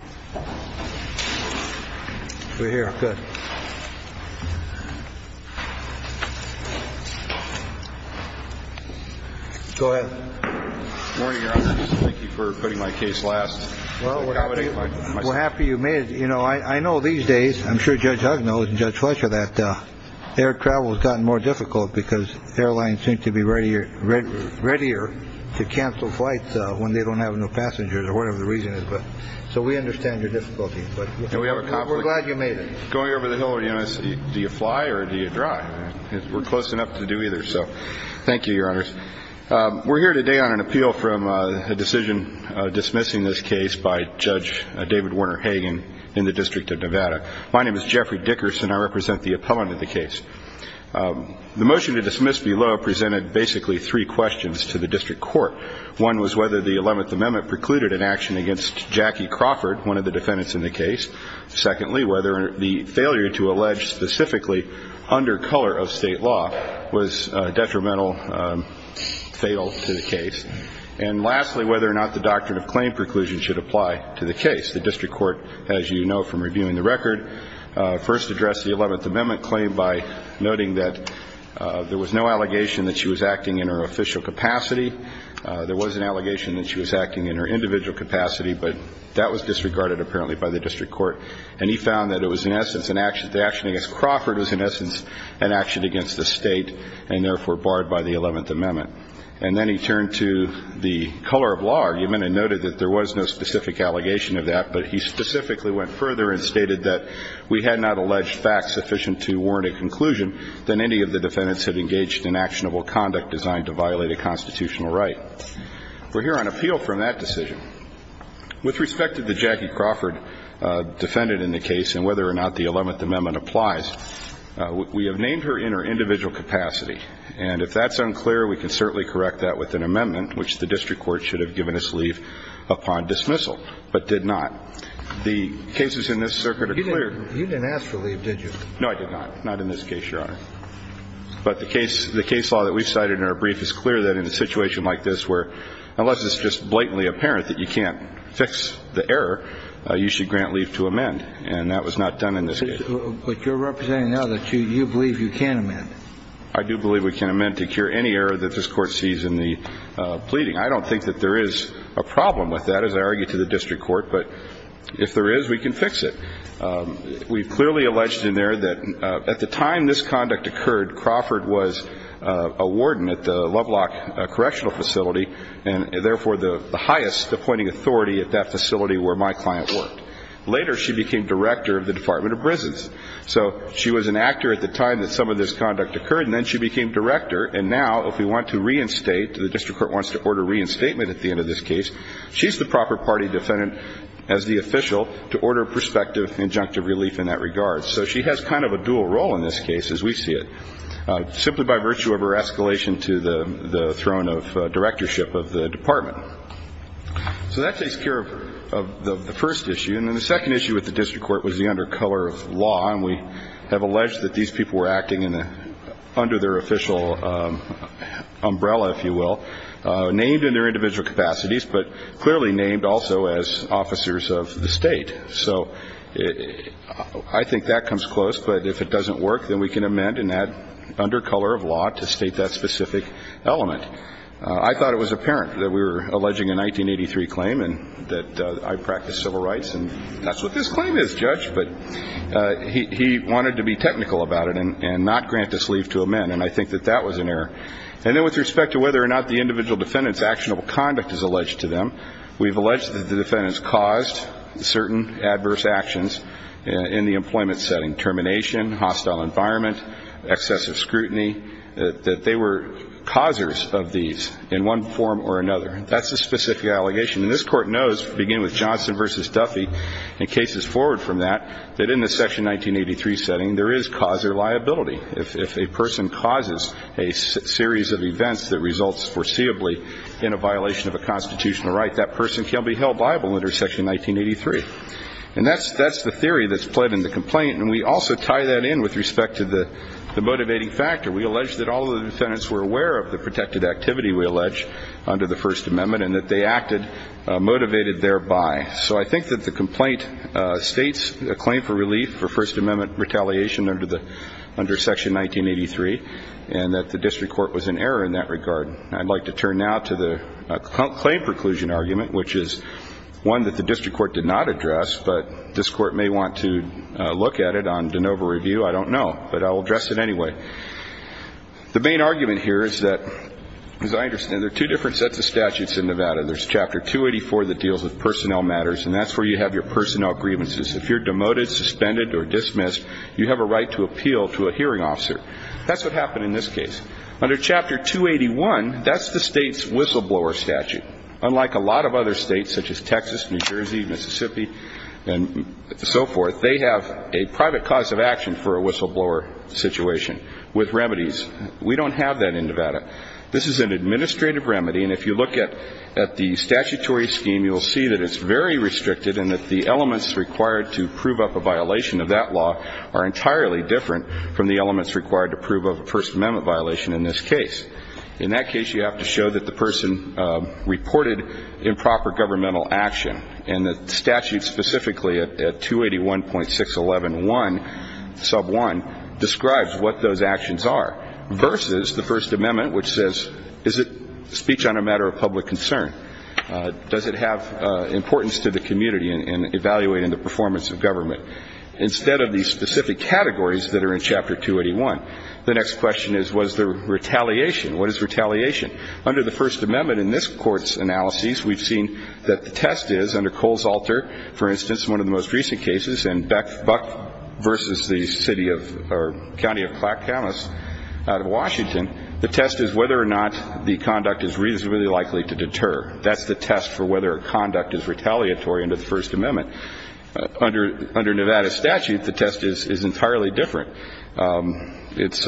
We're here. Good. Go ahead. Thank you for putting my case last. Well, we're happy you made it. You know, I know these days I'm sure Judge Hug knows and Judge Fletcher that air travel has gotten more difficult because airlines seem to be ready or readier to cancel flights when they don't have no passengers or whatever the reason is. So we understand your difficulty, but we're glad you made it going over the hill. Do you fly or do you drive? We're close enough to do either. So thank you, Your Honors. We're here today on an appeal from a decision dismissing this case by Judge David Warner Hagan in the District of Nevada. My name is Jeffrey Dickerson. I represent the appellant in the case. The motion to dismiss below presented basically three questions to the district court. One was whether the 11th Amendment precluded an action against Jackie Crawford, one of the defendants in the case. Secondly, whether the failure to allege specifically under color of state law was detrimental, fatal to the case. And lastly, whether or not the doctrine of claim preclusion should apply to the case. The district court, as you know from reviewing the record, first addressed the 11th Amendment claim by noting that there was no allegation that she was acting in her official capacity. There was an allegation that she was acting in her individual capacity, but that was disregarded apparently by the district court. And he found that it was in essence an action. The action against Crawford was in essence an action against the state and therefore barred by the 11th Amendment. And then he turned to the color of law argument and noted that there was no specific allegation of that, but he specifically went further and stated that we had not alleged facts sufficient to warrant a conclusion than any of the defendants had engaged in actionable conduct designed to violate a constitutional right. We're here on appeal from that decision. With respect to the Jackie Crawford defendant in the case and whether or not the 11th Amendment applies, we have named her in her individual capacity. And if that's unclear, we can certainly correct that with an amendment, which the district court should have given us leave upon dismissal, but did not. The cases in this circuit are clear. You didn't ask for leave, did you? No, I did not. Not in this case, Your Honor. But the case law that we've cited in our brief is clear that in a situation like this where, unless it's just blatantly apparent that you can't fix the error, you should grant leave to amend. And that was not done in this case. But you're representing now that you believe you can amend it. I do believe we can amend to cure any error that this Court sees in the pleading. I don't think that there is a problem with that, as I argue to the district court. But if there is, we can fix it. We've clearly alleged in there that at the time this conduct occurred, Crawford was a warden at the Lovelock Correctional Facility and therefore the highest appointing authority at that facility where my client worked. Later, she became director of the Department of Prisons. So she was an actor at the time that some of this conduct occurred. And then she became director. And now if we want to reinstate, the district court wants to order reinstatement at the end of this case, she's the proper party defendant as the official to order prospective injunctive relief in that regard. So she has kind of a dual role in this case, as we see it, simply by virtue of her escalation to the throne of directorship of the department. So that takes care of the first issue. And then the second issue with the district court was the under color of law. And we have alleged that these people were acting under their official umbrella, if you will, named in their individual capacities, but clearly named also as officers of the state. So I think that comes close. But if it doesn't work, then we can amend and add under color of law to state that specific element. I thought it was apparent that we were alleging a 1983 claim and that I practice civil rights, and that's what this claim is, Judge, but he wanted to be technical about it and not grant this leave to amend, and I think that that was an error. And then with respect to whether or not the individual defendant's actionable conduct is alleged to them, we've alleged that the defendants caused certain adverse actions in the employment setting, termination, hostile environment, excessive scrutiny, that they were causers of these in one form or another. That's a specific allegation. And this Court knows, beginning with Johnson v. Duffy and cases forward from that, that in the Section 1983 setting there is causer liability. If a person causes a series of events that results foreseeably in a violation of a constitutional right, that person can be held liable under Section 1983. And that's the theory that's played in the complaint, and we also tie that in with respect to the motivating factor. We allege that all of the defendants were aware of the protected activity we allege under the First Amendment and that they acted motivated thereby. So I think that the complaint states a claim for relief for First Amendment retaliation under Section 1983 and that the district court was in error in that regard. I'd like to turn now to the claim preclusion argument, which is one that the district court did not address, but this Court may want to look at it on de novo review. I don't know, but I'll address it anyway. The main argument here is that, as I understand, there are two different sets of statutes in Nevada. There's Chapter 284 that deals with personnel matters, and that's where you have your personnel grievances. If you're demoted, suspended, or dismissed, you have a right to appeal to a hearing officer. That's what happened in this case. Under Chapter 281, that's the state's whistleblower statute. Unlike a lot of other states, such as Texas, New Jersey, Mississippi, and so forth, they have a private cause of action for a whistleblower situation with remedies. We don't have that in Nevada. This is an administrative remedy, and if you look at the statutory scheme, you'll see that it's very restricted and that the elements required to prove up a violation of that law are entirely different from the elements required to prove up a First Amendment violation in this case. In that case, you have to show that the person reported improper governmental action, and the statute specifically at 281.611.1, sub 1, describes what those actions are, versus the First Amendment, which says, is it speech on a matter of public concern? Does it have importance to the community in evaluating the performance of government? Instead of these specific categories that are in Chapter 281, the next question is, was there retaliation? What is retaliation? Under the First Amendment, in this Court's analyses, we've seen that the test is, under Cole's Alter, for instance, one of the most recent cases, and Buck v. County of Clackamas out of Washington, the test is whether or not the conduct is reasonably likely to deter. That's the test for whether a conduct is retaliatory under the First Amendment. Under Nevada statute, the test is entirely different. It's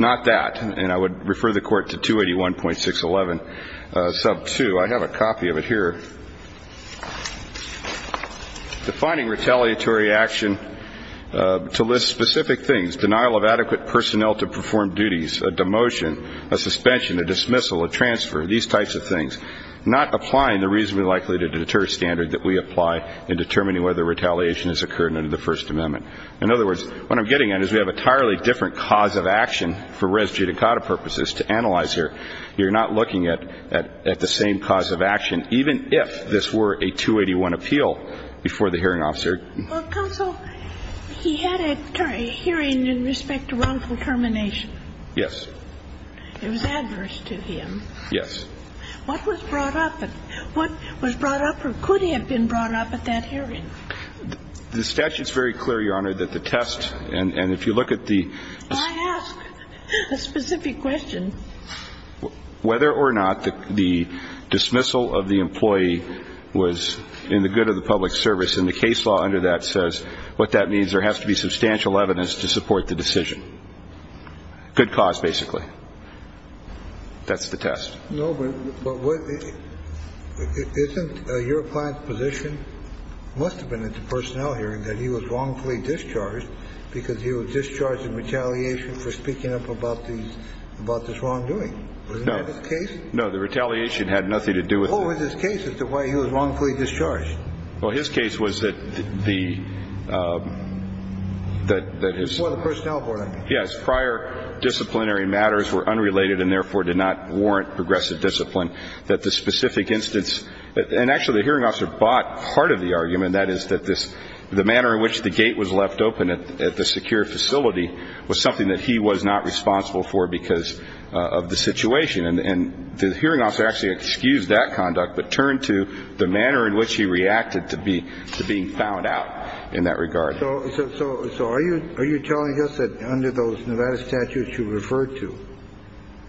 not that, and I would refer the Court to 281.611, sub 2. I have a copy of it here. Defining retaliatory action to list specific things, denial of adequate personnel to perform duties, a demotion, a suspension, a dismissal, a transfer, these types of things, not applying the reasonably likely to deter standard that we apply in determining whether retaliation has occurred under the First Amendment. In other words, what I'm getting at is we have entirely different cause of action for res judicata purposes. To analyze here, you're not looking at the same cause of action, even if this were a 281 appeal before the hearing officer. Well, counsel, he had a hearing in respect to wrongful termination. Yes. It was adverse to him. Yes. What was brought up? What was brought up or could have been brought up at that hearing? The statute's very clear, Your Honor, that the test, and if you look at the ---- I asked a specific question. Whether or not the dismissal of the employee was in the good of the public service, and the case law under that says what that means, there has to be substantial evidence to support the decision. Good cause, basically. That's the test. No, but isn't your client's position, must have been at the personnel hearing, that he was wrongfully discharged because he was discharged in retaliation for speaking up about these ---- about this wrongdoing? No. Wasn't that his case? No. The retaliation had nothing to do with that. What was his case as to why he was wrongfully discharged? Well, his case was that the ---- that his ---- Before the personnel board, I mean. Yes. Prior disciplinary matters were unrelated and therefore did not warrant progressive discipline, that the specific instance ---- And actually, the hearing officer bought part of the argument, that is, that this ---- the manner in which the gate was left open at the secure facility was something that he was not responsible for because of the situation. And the hearing officer actually excused that conduct but turned to the manner in which he reacted to be ---- to being found out in that regard. So are you telling us that under those Nevada statutes you referred to,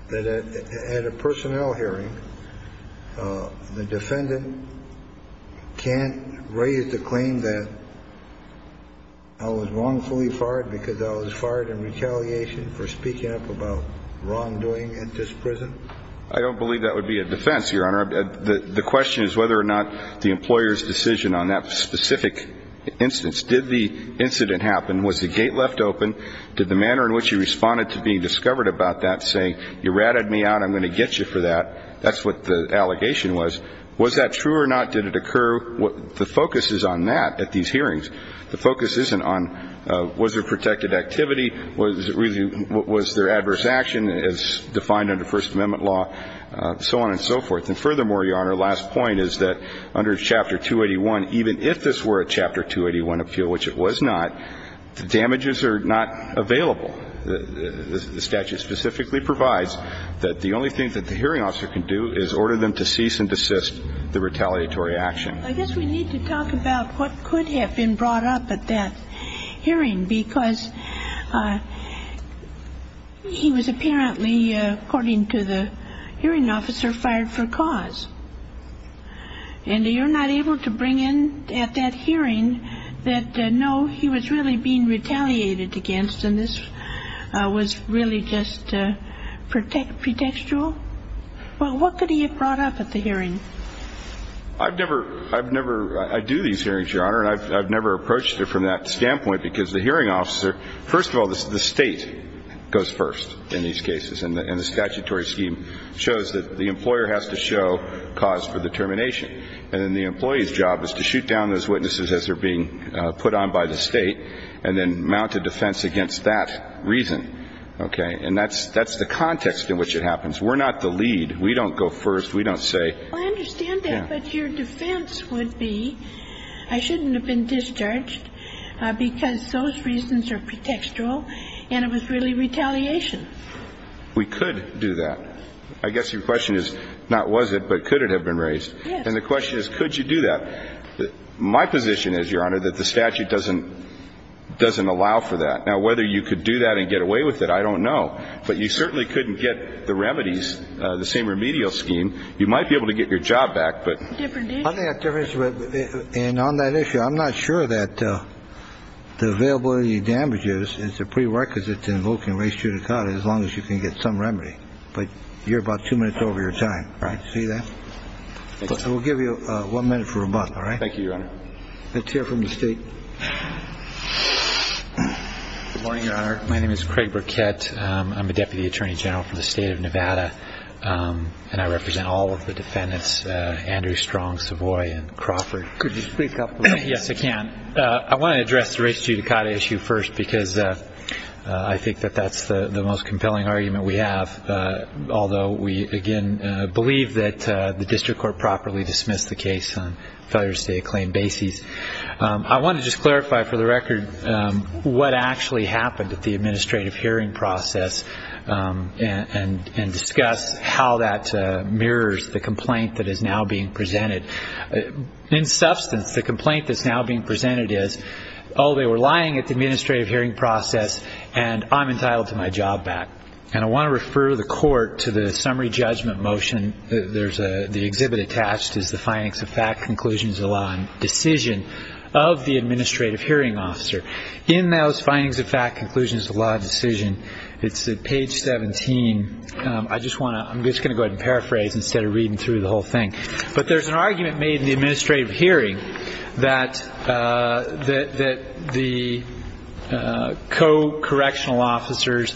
that at a personnel hearing, the defendant can't raise the claim that I was wrongfully fired because I was fired in retaliation for speaking up about wrongdoing at this prison? I don't believe that would be a defense, Your Honor. The question is whether or not the employer's decision on that specific instance did the incident happen, was the gate left open, did the manner in which he responded to being discovered about that say, you ratted me out, I'm going to get you for that. That's what the allegation was. Was that true or not? Did it occur? The focus is on that at these hearings. The focus isn't on was there protected activity, was there adverse action as defined under First Amendment law, so on and so forth. And furthermore, Your Honor, the last point is that under Chapter 281, even if this were a Chapter 281 appeal, which it was not, the damages are not available. The statute specifically provides that the only thing that the hearing officer can do is order them to cease and desist the retaliatory action. I guess we need to talk about what could have been brought up at that hearing because he was apparently, according to the hearing officer, fired for cause. And you're not able to bring in at that hearing that, no, he was really being retaliated against and this was really just pretextual? Well, what could he have brought up at the hearing? I've never, I do these hearings, Your Honor, and I've never approached it from that standpoint because the hearing officer, first of all, the State goes first in these And then the employee's job is to shoot down those witnesses as they're being put on by the State and then mount a defense against that reason. Okay? And that's the context in which it happens. We're not the lead. We don't go first. We don't say. Well, I understand that, but your defense would be I shouldn't have been discharged because those reasons are pretextual and it was really retaliation. We could do that. I guess your question is not was it, but could it have been raised? Yes. And the question is could you do that? My position is, Your Honor, that the statute doesn't allow for that. Now, whether you could do that and get away with it, I don't know. But you certainly couldn't get the remedies, the same remedial scheme. You might be able to get your job back. And on that issue, I'm not sure that the availability of damages is a prerequisite to invoking res judicata as long as you can get some remedy. But you're about two minutes over your time. Right. See that? We'll give you one minute for rebuttal. All right. Thank you, Your Honor. Let's hear from the State. Good morning, Your Honor. My name is Craig Burkett. I'm a deputy attorney general for the State of Nevada. And I represent all of the defendants, Andrew Strong, Savoy, and Crawford. Could you speak up? Yes, I can. I want to address the res judicata issue first, because I think that that's the most compelling argument we have, although we, again, believe that the district court properly dismissed the case on a failure to state a claim basis. I want to just clarify, for the record, what actually happened at the administrative hearing process and discuss how that mirrors the complaint that is now being presented. In substance, the complaint that's now being presented is, oh, they were lying at the administrative hearing process, and I'm entitled to my job back. And I want to refer the court to the summary judgment motion. The exhibit attached is the findings of fact, conclusions of law, and decision of the administrative hearing officer. In those findings of fact, conclusions of law, and decision, it's at page 17. I'm just going to go ahead and paraphrase instead of reading through the whole thing. But there's an argument made in the administrative hearing that the co-correctional officers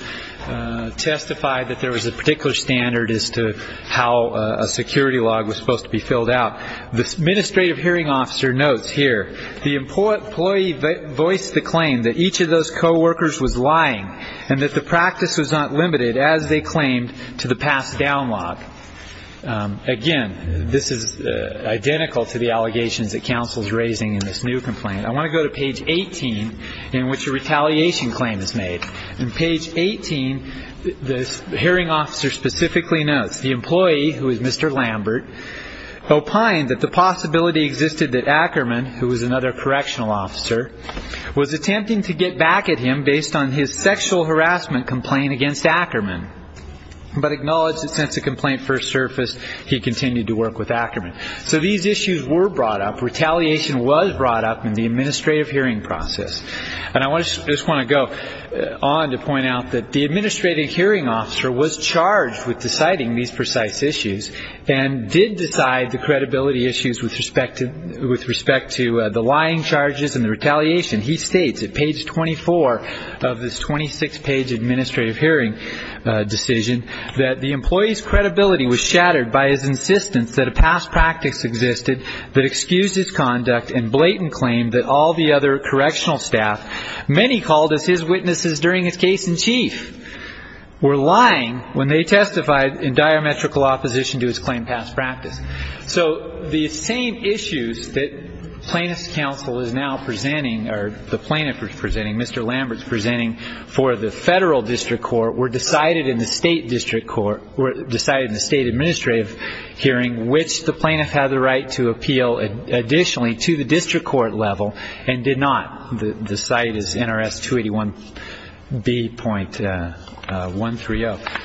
testified that there was a particular standard as to how a security log was supposed to be filled out. The administrative hearing officer notes here, the employee voiced the claim that each of those co-workers was lying and that the practice was not limited, as they claimed, to the pass-down log. Again, this is identical to the allegations that counsel is raising in this new complaint. I want to go to page 18, in which a retaliation claim is made. In page 18, the hearing officer specifically notes, the employee, who is Mr. Lambert, opined that the possibility existed that Ackerman, who was another correctional officer, was attempting to get back at him based on his sexual harassment complaint against Ackerman, but acknowledged that since the complaint first surfaced, he continued to work with Ackerman. So these issues were brought up. Retaliation was brought up in the administrative hearing process. And I just want to go on to point out that the administrative hearing officer was charged with deciding these precise issues and did decide the credibility issues with respect to the lying charges and the retaliation. He states at page 24 of this 26-page administrative hearing decision that the employee's credibility was shattered by his insistence that a past practice existed that excused his conduct and blatant claimed that all the other correctional staff, many called as his witnesses during his case in chief, were lying when they testified in diametrical opposition to his claim past practice. So the same issues that plaintiff's counsel is now presenting, or the plaintiff is presenting, Mr. Lambert is presenting, for the federal district court were decided in the state district court, were decided in the state administrative hearing, which the plaintiff had the right to appeal additionally to the district court level and did not. The site is NRS 281B.130.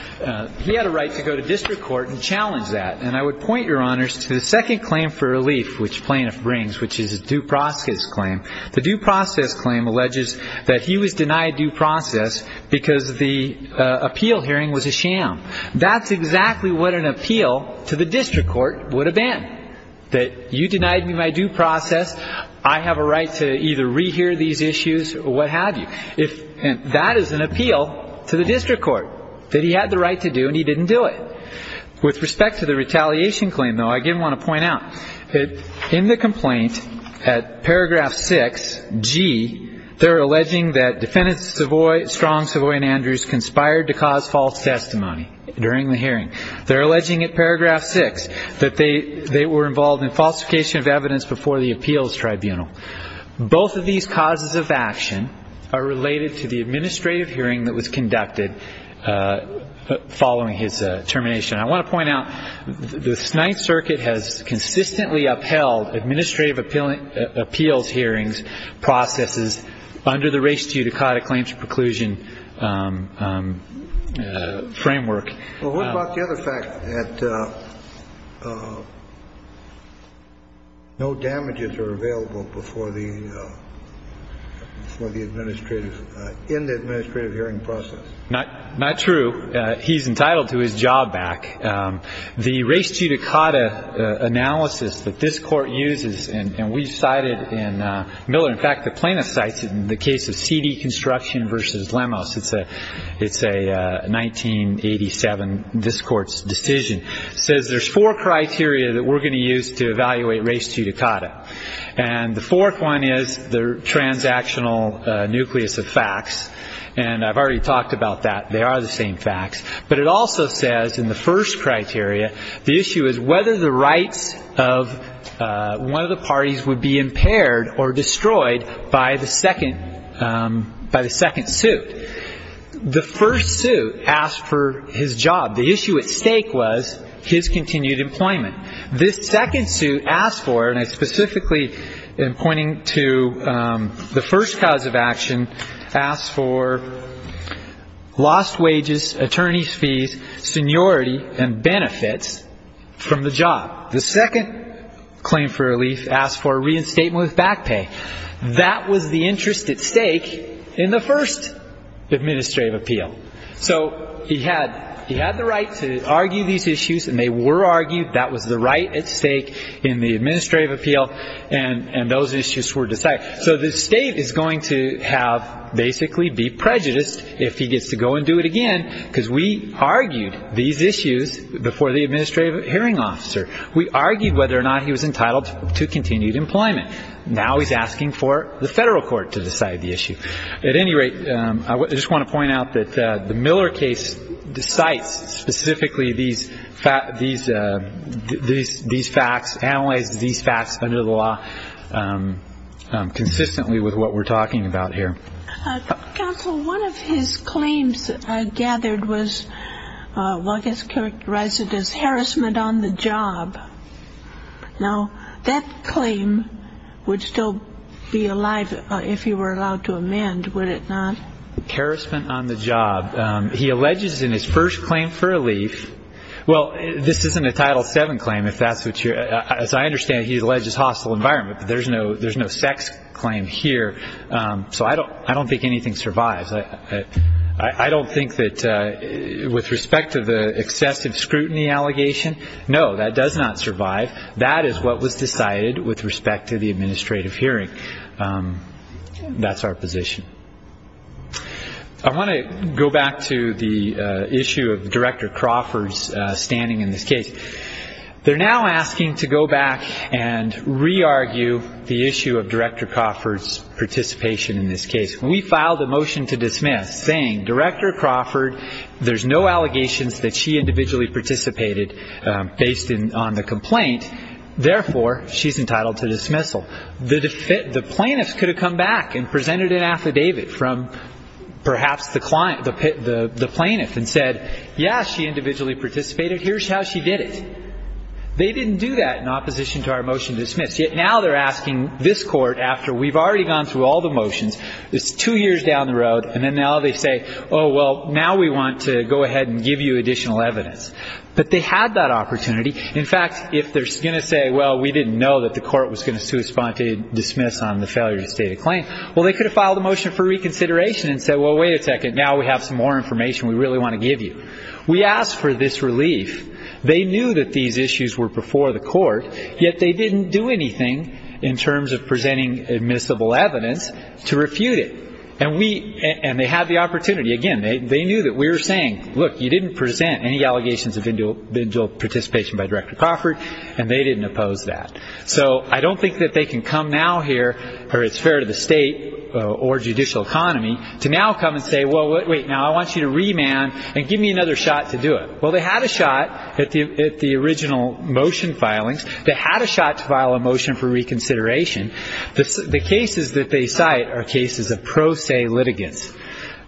He had a right to go to district court and challenge that. And I would point, Your Honors, to the second claim for relief which plaintiff brings, which is a due process claim. The due process claim alleges that he was denied due process because the appeal hearing was a sham. That's exactly what an appeal to the district court would have been, that you denied me my due process. I have a right to either rehear these issues or what have you. That is an appeal to the district court that he had the right to do and he didn't do it. With respect to the retaliation claim, though, I did want to point out that in the complaint at paragraph 6G, they're alleging that defendants Strong, Savoy, and Andrews conspired to cause false testimony during the hearing. They're alleging at paragraph 6 that they were involved in falsification of evidence before the appeals tribunal. Both of these causes of action are related to the administrative hearing that was conducted following his termination. I want to point out the Ninth Circuit has consistently upheld administrative appeals hearings processes under the race due to Cauda claims preclusion framework. Well, what about the other fact that no damages are available before the administrative, in the administrative hearing process? Not true. He's entitled to his job back. The race due to Cauda analysis that this court uses, and we've cited in Miller. In fact, the plaintiff cites it in the case of CD construction versus Lemos. It's a 1987, this court's decision. It says there's four criteria that we're going to use to evaluate race due to Cauda. And the fourth one is the transactional nucleus of facts. And I've already talked about that. They are the same facts. But it also says in the first criteria, the issue is whether the rights of one of the parties would be impaired or destroyed by the second suit. The first suit asked for his job. The issue at stake was his continued employment. This second suit asked for, and I specifically am pointing to the first cause of action, asked for lost wages, attorney's fees, seniority, and benefits from the job. The second claim for relief asked for reinstatement with back pay. That was the interest at stake in the first administrative appeal. So he had the right to argue these issues, and they were argued. That was the right at stake in the administrative appeal, and those issues were decided. So the state is going to have basically be prejudiced if he gets to go and do it again because we argued these issues before the administrative hearing officer. We argued whether or not he was entitled to continued employment. Now he's asking for the federal court to decide the issue. At any rate, I just want to point out that the Miller case cites specifically these facts, analyzes these facts under the law consistently with what we're talking about here. Counsel, one of his claims gathered was what was characterized as harassment on the job. Now, that claim would still be alive if he were allowed to amend, would it not? Harassment on the job. He alleges in his first claim for relief, well, this isn't a Title VII claim. As I understand it, he alleges hostile environment, but there's no sex claim here. So I don't think anything survives. I don't think that with respect to the excessive scrutiny allegation, no, that does not survive. That is what was decided with respect to the administrative hearing. That's our position. I want to go back to the issue of Director Crawford's standing in this case. They're now asking to go back and re-argue the issue of Director Crawford's participation in this case. When we filed a motion to dismiss saying, Director Crawford, there's no allegations that she individually participated based on the complaint, therefore she's entitled to dismissal, the plaintiffs could have come back and presented an affidavit from perhaps the plaintiff and said, yes, she individually participated, here's how she did it. They didn't do that in opposition to our motion to dismiss. Yet now they're asking this court, after we've already gone through all the motions, it's two years down the road, and then now they say, oh, well, now we want to go ahead and give you additional evidence. But they had that opportunity. In fact, if they're going to say, well, we didn't know that the court was going to sui sponte dismiss on the failure to state a claim, well, they could have filed a motion for reconsideration and said, well, wait a second, now we have some more information we really want to give you. They knew that these issues were before the court, yet they didn't do anything in terms of presenting admissible evidence to refute it. And they had the opportunity. Again, they knew that we were saying, look, you didn't present any allegations of individual participation by Director Crawford, and they didn't oppose that. So I don't think that they can come now here, or it's fair to the state or judicial economy, to now come and say, well, wait, now I want you to remand and give me another shot to do it. Well, they had a shot at the original motion filings. They had a shot to file a motion for reconsideration. The cases that they cite are cases of pro se litigants,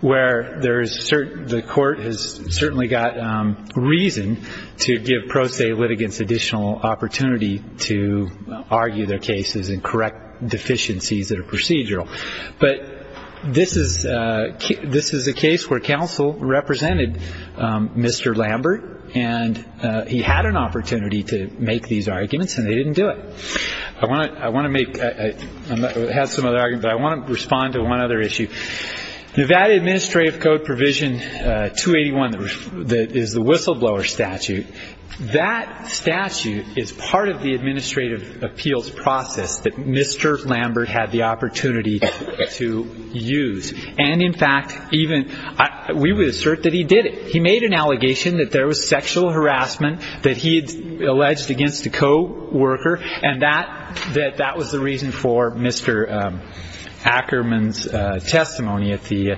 where the court has certainly got reason to give pro se litigants additional opportunity to argue their cases and correct deficiencies that are procedural. But this is a case where counsel represented Mr. Lambert, and he had an opportunity to make these arguments, and they didn't do it. I want to make – I have some other arguments, but I want to respond to one other issue. The Nevada Administrative Code Provision 281 is the whistleblower statute. That statute is part of the administrative appeals process that Mr. Lambert had the opportunity to use. And, in fact, even – we would assert that he did it. He made an allegation that there was sexual harassment that he had alleged against a co-worker, and that that was the reason for Mr. Ackerman's testimony at the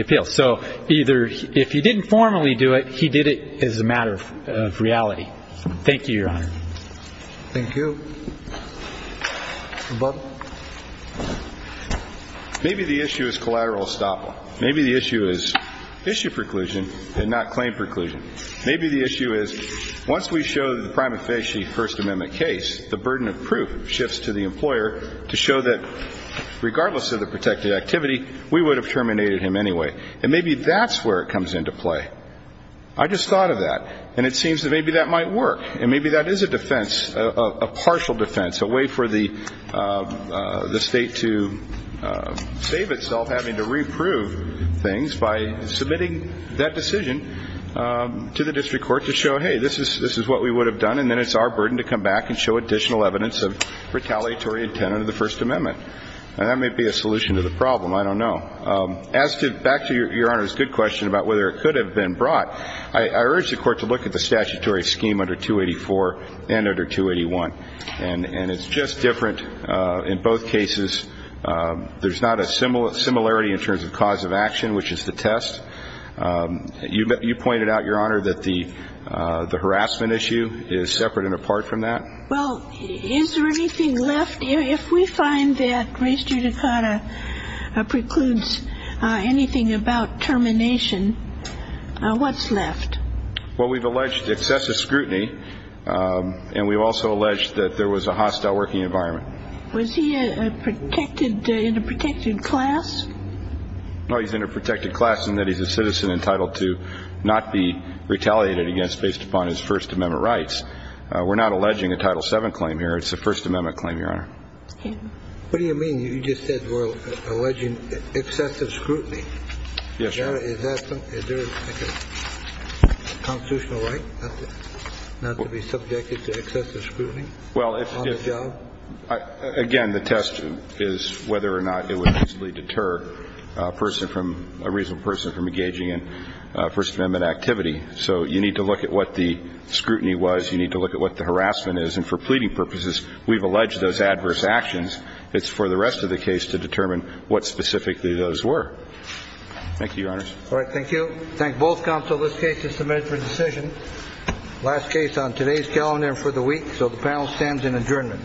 appeal. So either – if he didn't formally do it, he did it as a matter of reality. Thank you, Your Honor. Thank you. Mr. Butler. Maybe the issue is collateral estoppel. Maybe the issue is issue preclusion and not claim preclusion. Maybe the issue is, once we show the prime offense, the First Amendment case, the burden of proof shifts to the employer to show that, regardless of the protected activity, we would have terminated him anyway. And maybe that's where it comes into play. I just thought of that. And it seems that maybe that might work. And maybe that is a defense, a partial defense, a way for the state to save itself having to reprove things by submitting that decision to the district court to show, hey, this is what we would have done, and then it's our burden to come back and show additional evidence of retaliatory intent under the First Amendment. And that may be a solution to the problem. I don't know. Back to Your Honor's good question about whether it could have been brought. I urge the Court to look at the statutory scheme under 284 and under 281. And it's just different in both cases. There's not a similarity in terms of cause of action, which is the test. You pointed out, Your Honor, that the harassment issue is separate and apart from that. Well, is there anything left? If we find that Grace Judicata precludes anything about termination, what's left? Well, we've alleged excessive scrutiny, and we've also alleged that there was a hostile working environment. Was he in a protected class? No, he's in a protected class in that he's a citizen entitled to not be retaliated against based upon his First Amendment rights. We're not alleging a Title VII claim here. It's a First Amendment claim, Your Honor. What do you mean? You just said we're alleging excessive scrutiny. Yes, Your Honor. Is that something? Is there a constitutional right not to be subjected to excessive scrutiny on the job? Well, again, the test is whether or not it would easily deter a person from ‑‑ a reasonable person from engaging in First Amendment activity. So you need to look at what the scrutiny was. You need to look at what the harassment is. And for pleading purposes, we've alleged those adverse actions. It's for the rest of the case to determine what specifically those were. Thank you, Your Honors. All right. Thank you. Thank both counsel. This case is submitted for decision. Last case on today's calendar for the week. So the panel stands in adjournment. All rise.